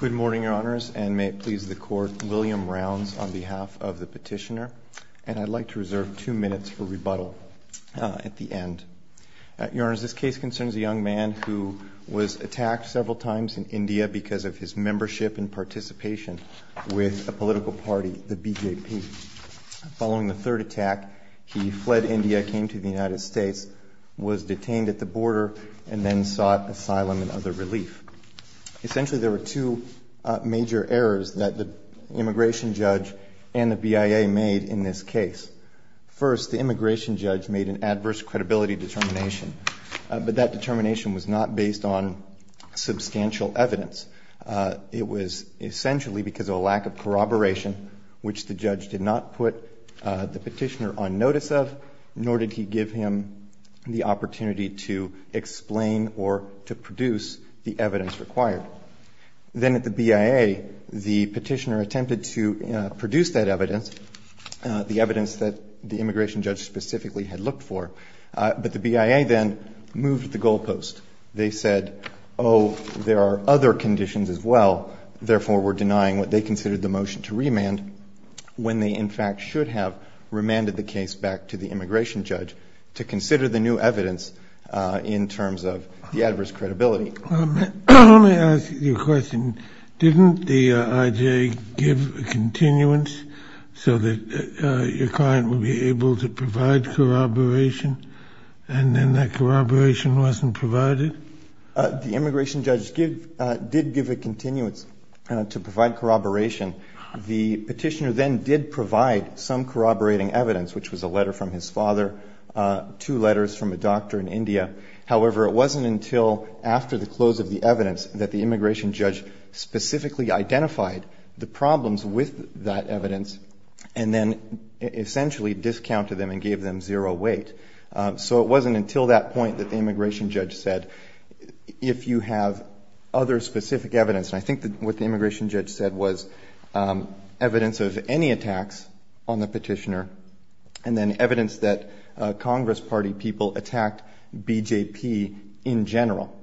Good morning, Your Honors, and may it please the Court, William Rounds on behalf of the Petitioner, and I'd like to reserve two minutes for rebuttal at the end. Your Honors, this case concerns a young man who was attacked several times in India because of his membership and participation with a political party, the BJP. Following the third attack, he fled the border and then sought asylum and other relief. Essentially, there were two major errors that the immigration judge and the BIA made in this case. First, the immigration judge made an adverse credibility determination, but that determination was not based on substantial evidence. It was essentially because of a lack of corroboration, which the judge did not put the Petitioner on notice of, nor did he give him the opportunity to explain or to produce the evidence required. Then at the BIA, the Petitioner attempted to produce that evidence, the evidence that the immigration judge specifically had looked for, but the BIA then moved the goalpost. They said, oh, there are other conditions as well, therefore we're denying what they considered the motion to remand, when they in fact should have remanded the case back to the immigration judge to consider the new evidence in terms of the adverse credibility. Let me ask you a question. Didn't the IJA give a continuance so that your client would be able to provide corroboration, and then that corroboration wasn't provided? The immigration judge did give a continuance to provide corroboration. The Petitioner then did provide some corroborating evidence, which was a letter from his father, two letters from a doctor in India. However, it wasn't until after the close of the evidence that the immigration judge specifically identified the problems with that evidence and then essentially discounted them and gave them zero weight. So it wasn't until that point that the immigration judge said, if you have other specific evidence, and I think what the immigration judge said was evidence of any attacks on the Petitioner, and then evidence that Congress Party people attacked BJP in general.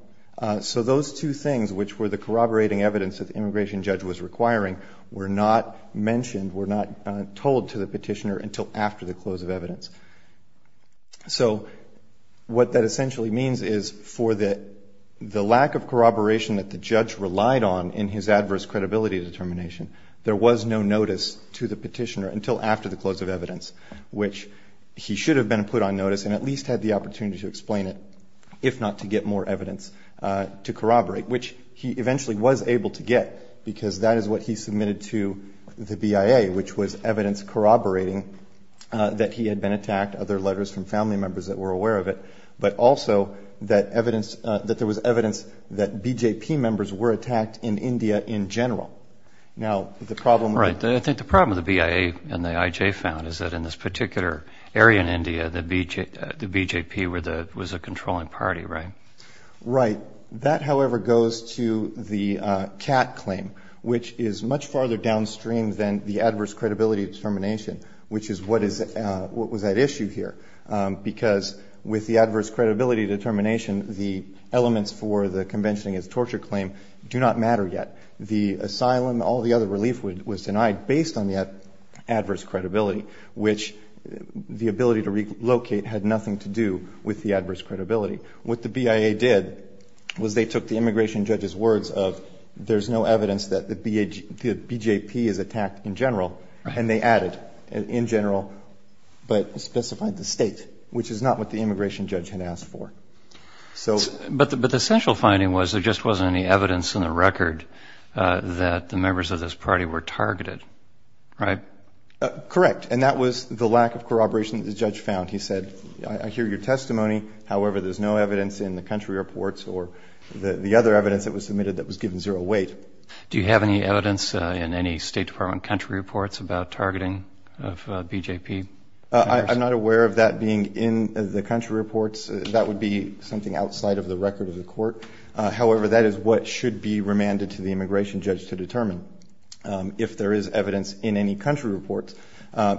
So those two things, which were the corroborating evidence that the immigration judge was requiring, were not mentioned, were not told to the Petitioner until after the close of evidence. So what that essentially means is for the lack of corroboration that the judge relied on in his adverse credibility determination, there was no notice to the Petitioner until after the close of evidence, which he should have been put on notice and at least had the opportunity to explain it, if not to get more evidence to corroborate, which he eventually was able to get, because that is what he submitted to the BIA, which was evidence corroborating that he had been attacked, other letters from family members that were aware of it, but also that evidence, that there was evidence that BJP members were attacked in India in general. Now, the problem- Right. I think the problem of the BIA and the IJ found is that in this particular area in India, the BJP was a controlling party, right? Right. That, however, goes to the CAT claim, which is much farther downstream than the adverse credibility determination, which is what was at issue here, because with the adverse credibility determination, the elements for the convention against torture claim do not matter yet. The asylum, all the other relief was denied based on the adverse credibility, which the ability to relocate had nothing to do with the adverse credibility. What the BIA did was they took the immigration judge's words of, there's no evidence that the BJP is attacked in general, and they added, in general, but specified the state, which is not what the immigration judge had asked for. But the central finding was there just wasn't any evidence in the record that the members of this party were targeted, right? Correct. And that was the lack of corroboration that the judge found. He said, I hear your testimony. However, there's no evidence in the country reports or the other evidence that was submitted that was given zero weight. Do you have any evidence in any State Department country reports about targeting of BJP members? I'm not aware of that being in the country reports. That would be something outside of the record of the court. However, that is what should be remanded to the immigration judge to determine if there is evidence in any country reports,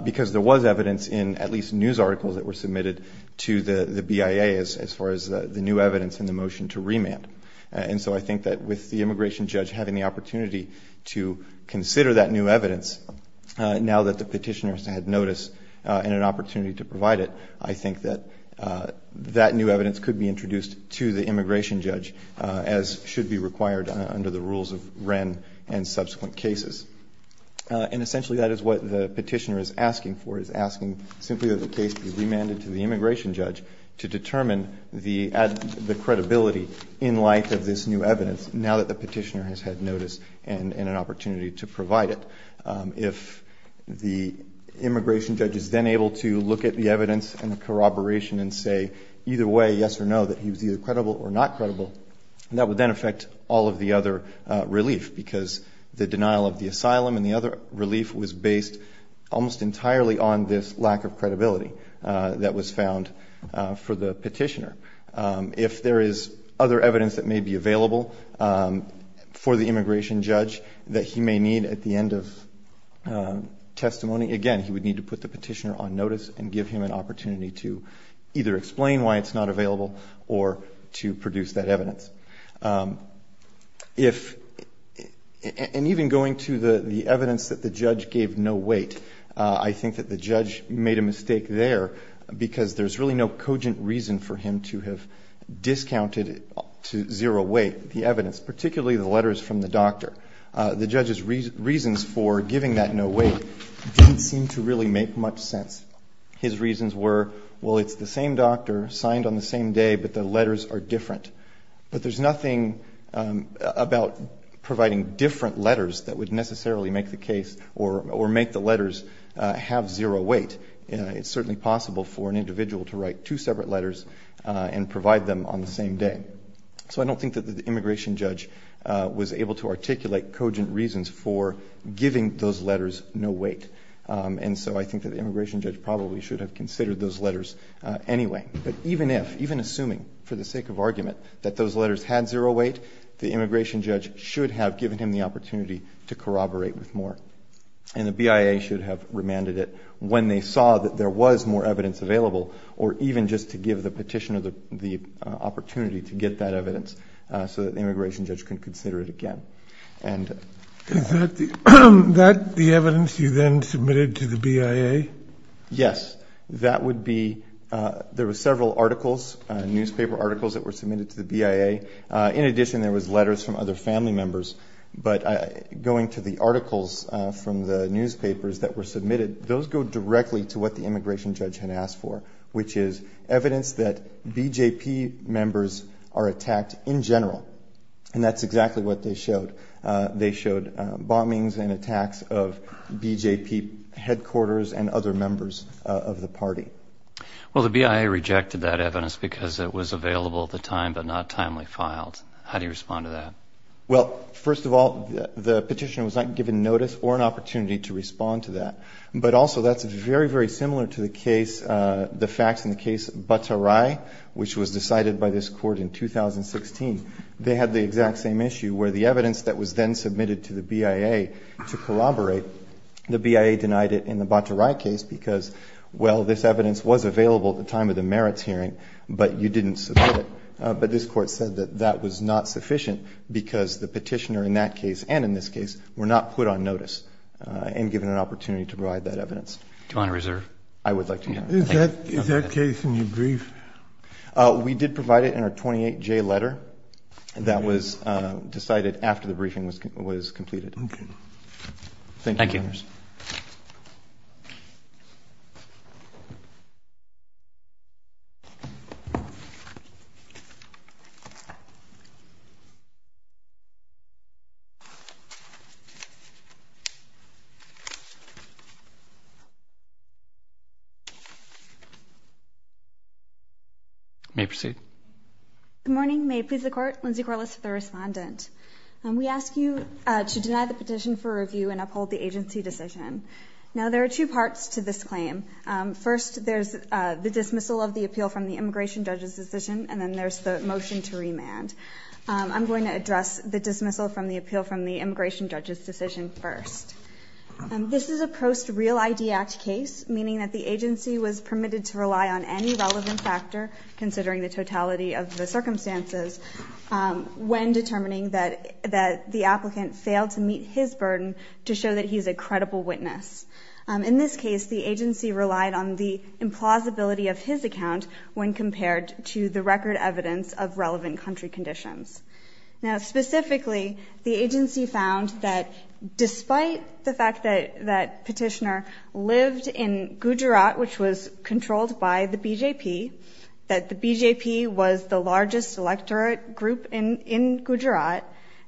because there was evidence in at least news articles that were submitted to the BIA as far as the new evidence in the motion to remand. And so I think that with the immigration judge having the opportunity to consider that new evidence, now that the petitioners had notice and an opportunity to provide it, I think that that new evidence could be introduced to the immigration judge, as should be required under the rules of Wren and subsequent cases. And essentially that is what the petitioner is asking for, is asking simply that the case be remanded to the immigration judge to determine the credibility in light of this new evidence now that the petitioner has had notice and an opportunity to provide it. If the immigration judge is then able to look at the evidence and the corroboration and say either way, yes or no, that he was either credible or not credible, that would then affect all of the other relief, because the denial of the asylum and the other relief was based almost entirely on this lack of credibility that was found for the petitioner. If there is other evidence that may be available for the immigration judge that he may need at the end of testimony, again, he would need to put the petitioner on notice and give him an opportunity to either explain why it's not available or to produce that evidence. And even going to the evidence that the judge gave no weight, I think that the judge made a mistake there because there's really no cogent reason for him to have discounted to zero weight the evidence, particularly the letters from the doctor. The judge's reasons for giving that no weight didn't seem to really make much sense. His reasons were, well, it's the same doctor, signed on the same day, but the letters are different. But there's nothing about providing different letters that would necessarily make the case or make the letters have zero weight. It's certainly possible for an individual to write two separate letters and provide them on the same day. So I don't think that the immigration judge was able to articulate cogent reasons for giving those letters no weight. And so I think that the immigration judge probably should have considered those letters anyway. But even if, even assuming, for the sake of argument, that those letters had zero weight, the immigration judge should have given him the opportunity to corroborate with more. And the BIA should have remanded it when they saw that there was more evidence available or even just to give the petitioner the opportunity to get that evidence so that the immigration judge can consider it again. Is that the evidence you then submitted to the BIA? Yes, that would be, there were several articles, newspaper articles that were submitted to the BIA. In addition, there was letters from other family members. But going to the articles from the newspapers that were submitted, those go directly to what the immigration judge had asked for, which is evidence that BJP members are attacked in general. And that's exactly what they showed. They showed bombings and attacks of BJP headquarters and other members of the party. Well, the BIA rejected that evidence because it was available at the time but not timely filed. How do you respond to that? Well, first of all, the petitioner was not given notice or an opportunity to respond to that. But also, that's very, very similar to the case, the facts in the case of Bataray, which was decided by this court in 2016. They had the exact same issue where the evidence that was then submitted to the BIA to corroborate, the BIA denied it in the Bataray case because, well, this evidence was available at the time of the merits hearing, but you didn't submit it. But this court said that that was not sufficient because the petitioner in that case and in this case were not put on notice and given an opportunity to provide that evidence. Do you want to reserve? I would like to. Is that case in your brief? We did provide it in our 28-J letter that was decided after the briefing was completed. Okay. Thank you. Thank you. You may proceed. Good morning. May it please the court, Lindsay Corliss, the respondent. We ask you to deny the petition for review and uphold the agency decision. Now, there are two parts to this claim. First, there's the dismissal of the appeal from the immigration judge's decision and then there's the motion to remand. I'm going to address the dismissal from the appeal from the immigration judge's decision first. This is a post-Real ID Act case, meaning that the agency was permitted to rely on any relevant factor, considering the totality of the circumstances, when determining that the applicant failed to meet his burden to show that he's a credible witness. In this case, the agency relied on the implausibility of his account when compared to the record evidence of relevant country conditions. Now, specifically, the agency found that despite the fact that Petitioner lived in Gujarat, which was controlled by the BJP, that the BJP was the largest electorate group in Gujarat,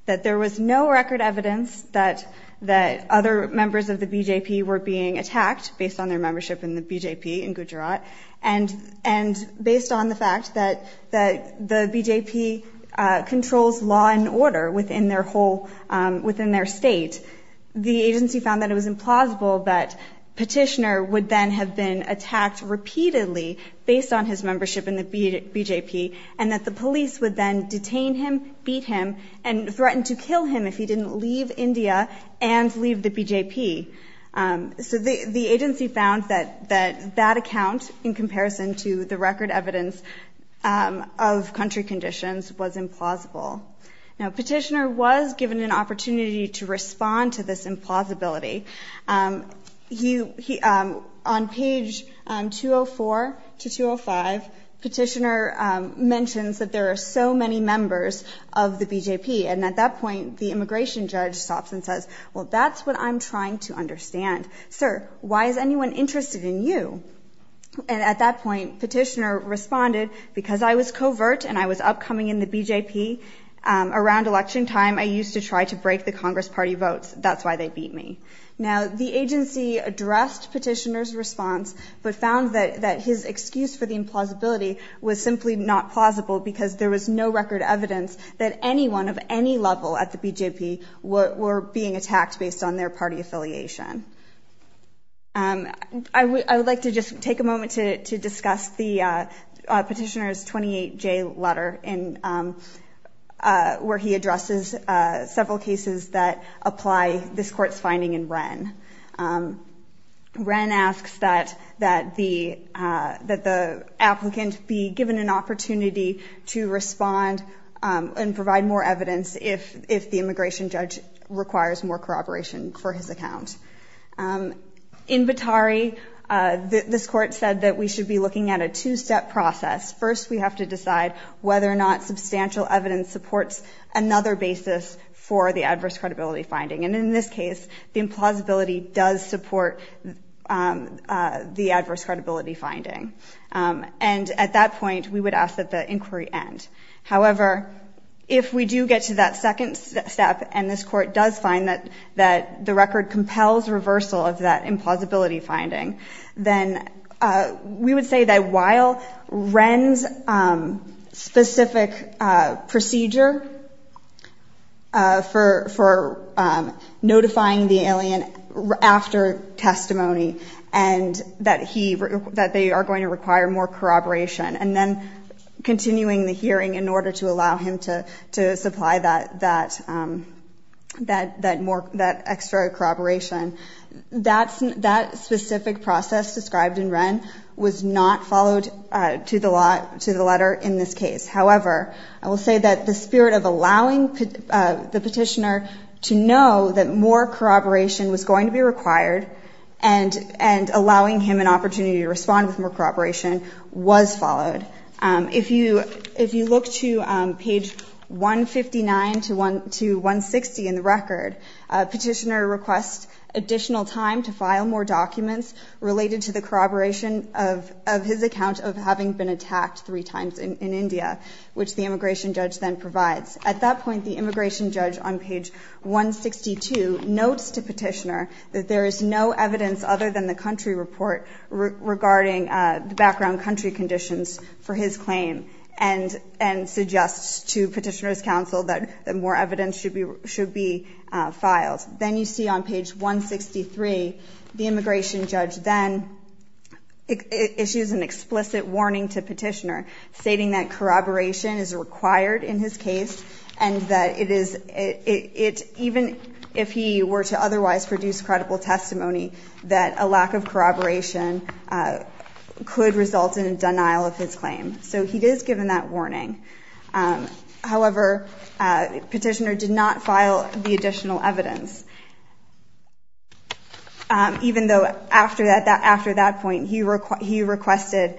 that there was no record evidence that other members of the BJP were being attacked based on their membership in the BJP in Gujarat, and based on the fact that the BJP controls law and order within their state, the agency found that it was implausible that Petitioner would then have been attacked repeatedly based on his membership in the BJP, and that the police would then detain him, beat him, and threaten to kill him if he didn't leave India and leave the BJP. So, the agency found that that account, in comparison to the record evidence of country conditions, was implausible. Now, Petitioner was given an opportunity to respond to this implausibility. On page 204 to 205, Petitioner mentions that there are so many members of the BJP, and at that point, the immigration judge stops and says, well, that's what I'm trying to understand. Sir, why is anyone interested in you? And at that point, Petitioner responded, because I was covert and I was upcoming in the BJP, around election time, I used to try to break the Congress Party votes. That's why they beat me. Now, the agency addressed Petitioner's response, but found that his excuse for the implausibility was simply not plausible, because there was no record evidence that anyone of any level at the BJP were being attacked based on their party affiliation. I would like to just take a moment to discuss the Petitioner's 28J letter, where he addresses several cases that apply this court's finding in Wren. Wren asks that the applicant be given an opportunity to respond and provide more evidence if the immigration judge requires more corroboration for his account. In Batari, this court said that we should be looking at a two-step process. First, we have to decide whether or not substantial evidence supports another basis for the adverse credibility finding. And at that point, we would ask that the inquiry end. However, if we do get to that second step, and this court does find that the record compels reversal of that implausibility finding, then we would say that while Wren's specific procedure for notifying the alien after testimony, and that they are going to require more corroboration, and then continuing the hearing in order to allow him to supply that extra corroboration, that specific process described in Wren was not followed to the letter in this case. However, I will say that the spirit of allowing the petitioner to know that more corroboration was going to be required and allowing him an opportunity to respond with more corroboration was followed. If you look to page 159 to 160 in the record, petitioner requests additional time to file more documents related to the corroboration of his account of having been attacked three times in India, which the immigration judge then provides. At that point, the immigration judge on page 162 notes to petitioner that there is no evidence other than the country report regarding the background country conditions for his claim and suggests to petitioner's counsel that more evidence should be filed. Then you see on page 163, the immigration judge then issues an explicit warning to petitioner stating that corroboration is required in his case and that it is, even if he were to otherwise produce credible testimony, that a lack of corroboration could result in denial of his claim. So he is given that warning. However, petitioner did not file the additional evidence. Even though after that point, he requested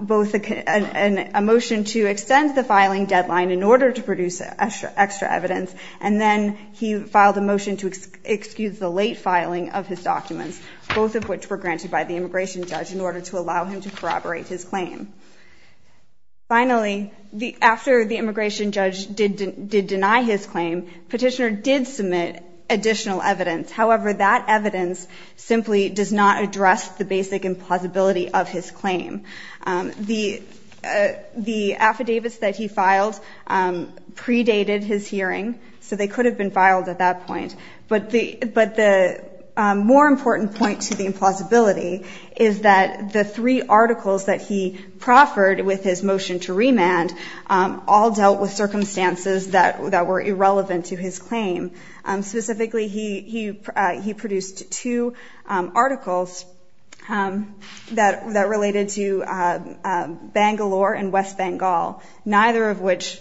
both a motion to extend the filing deadline in order to produce extra evidence, and then he filed a motion to excuse the late filing of his documents, both of which were granted by the immigration judge in order to allow him to corroborate his claim. Finally, after the immigration judge did deny his claim, petitioner did submit additional evidence. However, that evidence simply does not address the basic implausibility of his claim. The affidavits that he filed predated his hearing, so they could have been filed at that point. But the more important point to the implausibility is that the three articles that he proffered with his motion to remand all dealt with circumstances that were irrelevant to his claim. Specifically, he produced two articles that related to Bangalore and West Bengal, neither of which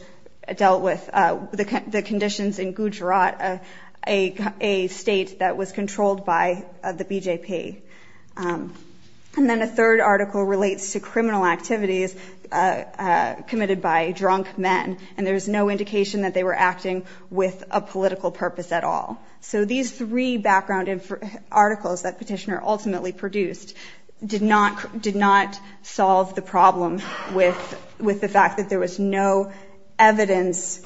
dealt with the conditions in Gujarat, a state that was controlled by the BJP. And then a third article relates to criminal activities committed by drunk men, and there is no indication that they were acting with a political purpose at all. So these three background articles that petitioner ultimately produced did not solve the problem with the fact that there was no evidence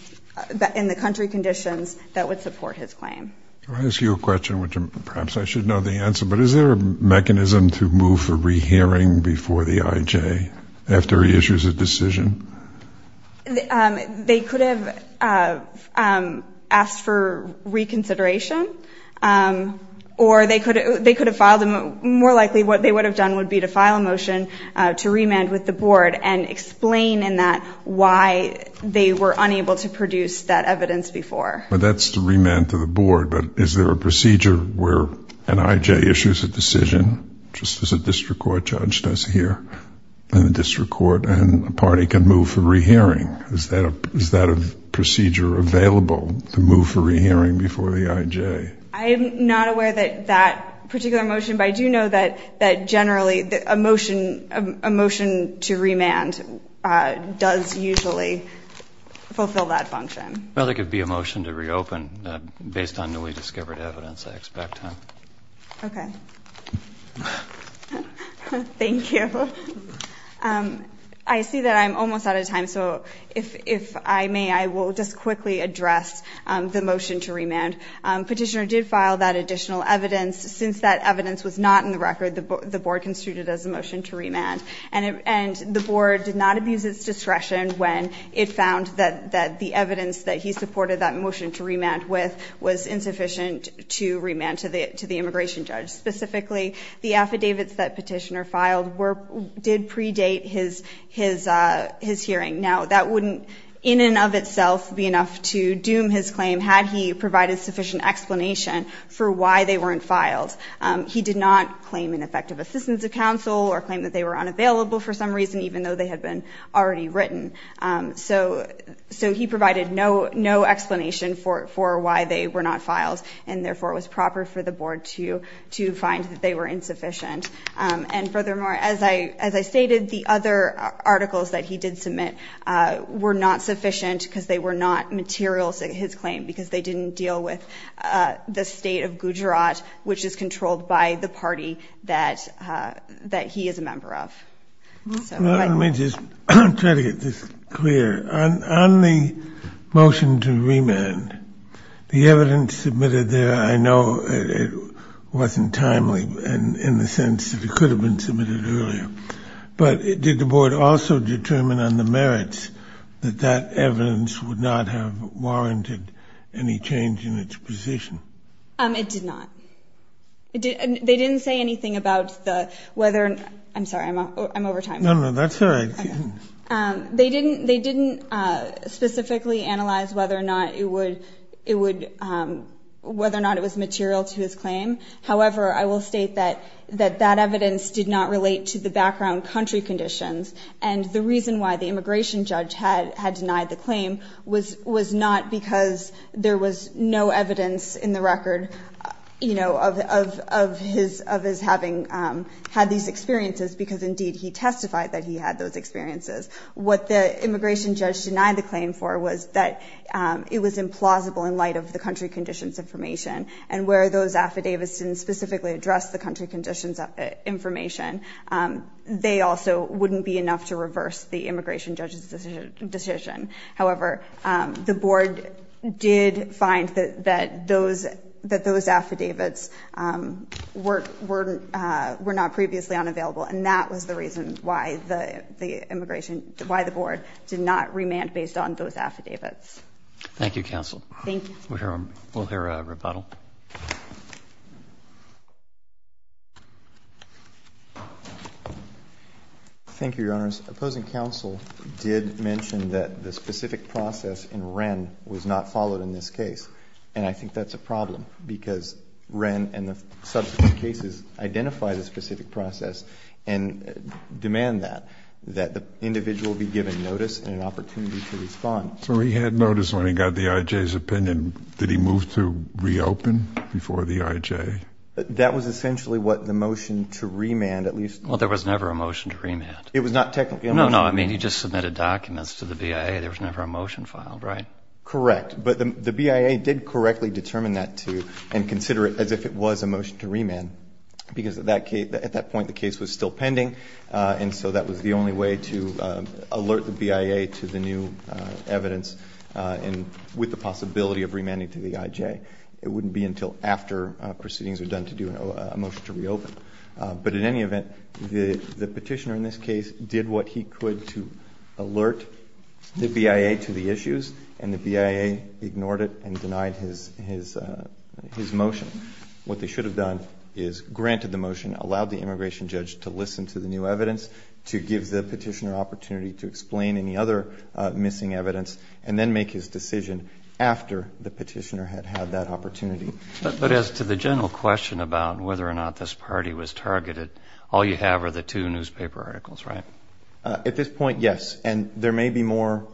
in the country conditions that would support his claim. Can I ask you a question, which perhaps I should know the answer, but is there a mechanism to move for rehearing before the IJ, after he issues a decision? They could have asked for reconsideration, or they could have filed, more likely what they would have done would be to file a motion to remand with the board and explain in that why they were unable to produce that evidence before. That's to remand to the board, but is there a procedure where an IJ issues a decision, just as a district court judge does here in the district court, and a party can move for rehearing? Is that a procedure available to move for rehearing before the IJ? I am not aware of that particular motion, but I do know that generally a motion to remand does usually fulfill that function. Well, there could be a motion to reopen based on newly discovered evidence, I expect. Okay. Thank you. I see that I'm almost out of time, so if I may, I will just quickly address the motion to remand. Petitioner did file that additional evidence. Since that evidence was not in the record, the board construed it as a motion to remand, and the board did not abuse its discretion when it found that the evidence that he supported that motion to remand with was insufficient to remand to the immigration judge. Specifically, the affidavits that Petitioner filed did predate his hearing. Now, that wouldn't in and of itself be enough to doom his claim had he provided sufficient explanation for why they weren't filed. He did not claim an effective assistance of counsel or claim that they were unavailable for some reason, even though they had been already written. So he provided no explanation for why they were not filed, and therefore it was proper for the board to find that they were insufficient. And furthermore, as I stated, the other articles that he did submit were not sufficient because they were not material to his claim because they didn't deal with the state of Gujarat, which is controlled by the party that he is a member of. Let me just try to get this clear. On the motion to remand, the evidence submitted there, I know it wasn't timely in the sense that it could have been submitted earlier, but did the board also determine on the merits that that evidence would not have warranted any change in its position? It did not. They didn't say anything about the whether — I'm sorry, I'm over time. No, no, that's all right. They didn't specifically analyze whether or not it was material to his claim. However, I will state that that evidence did not relate to the background country conditions, and the reason why the immigration judge had denied the claim was not because there was no evidence in the record, you know, of his having had these experiences, because indeed he testified that he had those experiences. What the immigration judge denied the claim for was that it was implausible in light of the country conditions information, and where those affidavits didn't specifically address the country conditions information, they also wouldn't be enough to reverse the immigration judge's decision. However, the board did find that those affidavits were not previously unavailable, and that was the reason why the immigration — why the board did not remand based on those affidavits. Thank you, counsel. Thank you. We'll hear a rebuttal. Thank you, Your Honors. Opposing counsel did mention that the specific process in Wren was not followed in this case, and I think that's a problem, because Wren and the subsequent cases identify the specific process and demand that, that the individual be given notice and an opportunity to respond. So he had notice when he got the I.J.'s opinion. Did he move to reopen before the I.J.? That was essentially what the motion to remand, at least — Well, there was never a motion to remand. It was not technically a motion. No, no. I mean, he just submitted documents to the BIA. There was never a motion filed, right? Correct. But the BIA did correctly determine that, too, and consider it as if it was a motion to remand, because at that point, the case was still pending, and so that was the only way to alert the BIA to the new evidence and with the possibility of remanding to the I.J. It wouldn't be until after proceedings are done to do a motion to reopen. But in any event, the petitioner in this case did what he could to alert the BIA to the issues, and the BIA ignored it and denied his motion. What they should have done is granted the motion, allowed the immigration judge to listen to the new evidence, to give the petitioner opportunity to explain any other missing evidence, and then make his decision after the petitioner had had that opportunity. But as to the general question about whether or not this party was targeted, all you have are the two newspaper articles, right? At this point, yes. And there may be more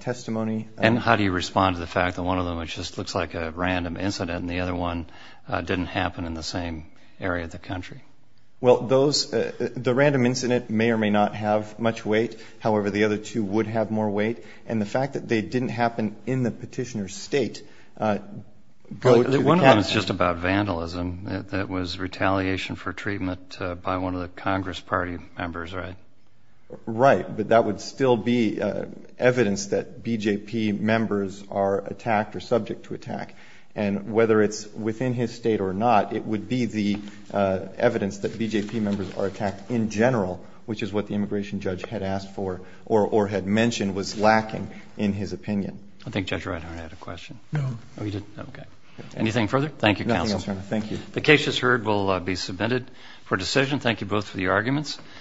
testimony — And how do you respond to the fact that one of them just looks like a random incident and the other one didn't happen in the same area of the country? Well, those — the random incident may or may not have much weight. However, the other two would have more weight. And the fact that they didn't happen in the petitioner's state — But one of them is just about vandalism. That was retaliation for treatment by one of the Congress Party members, right? Right. But that would still be evidence that BJP members are attacked or subject to attack. And whether it's within his state or not, it would be the evidence that BJP members are attacked in general, which is what the immigration judge had asked for or had mentioned was lacking in his opinion. I think Judge Reinhart had a question. No. Oh, he didn't? Okay. Anything further? Thank you, counsel. Nothing else, Your Honor. Thank you. The case, as heard, will be submitted for decision.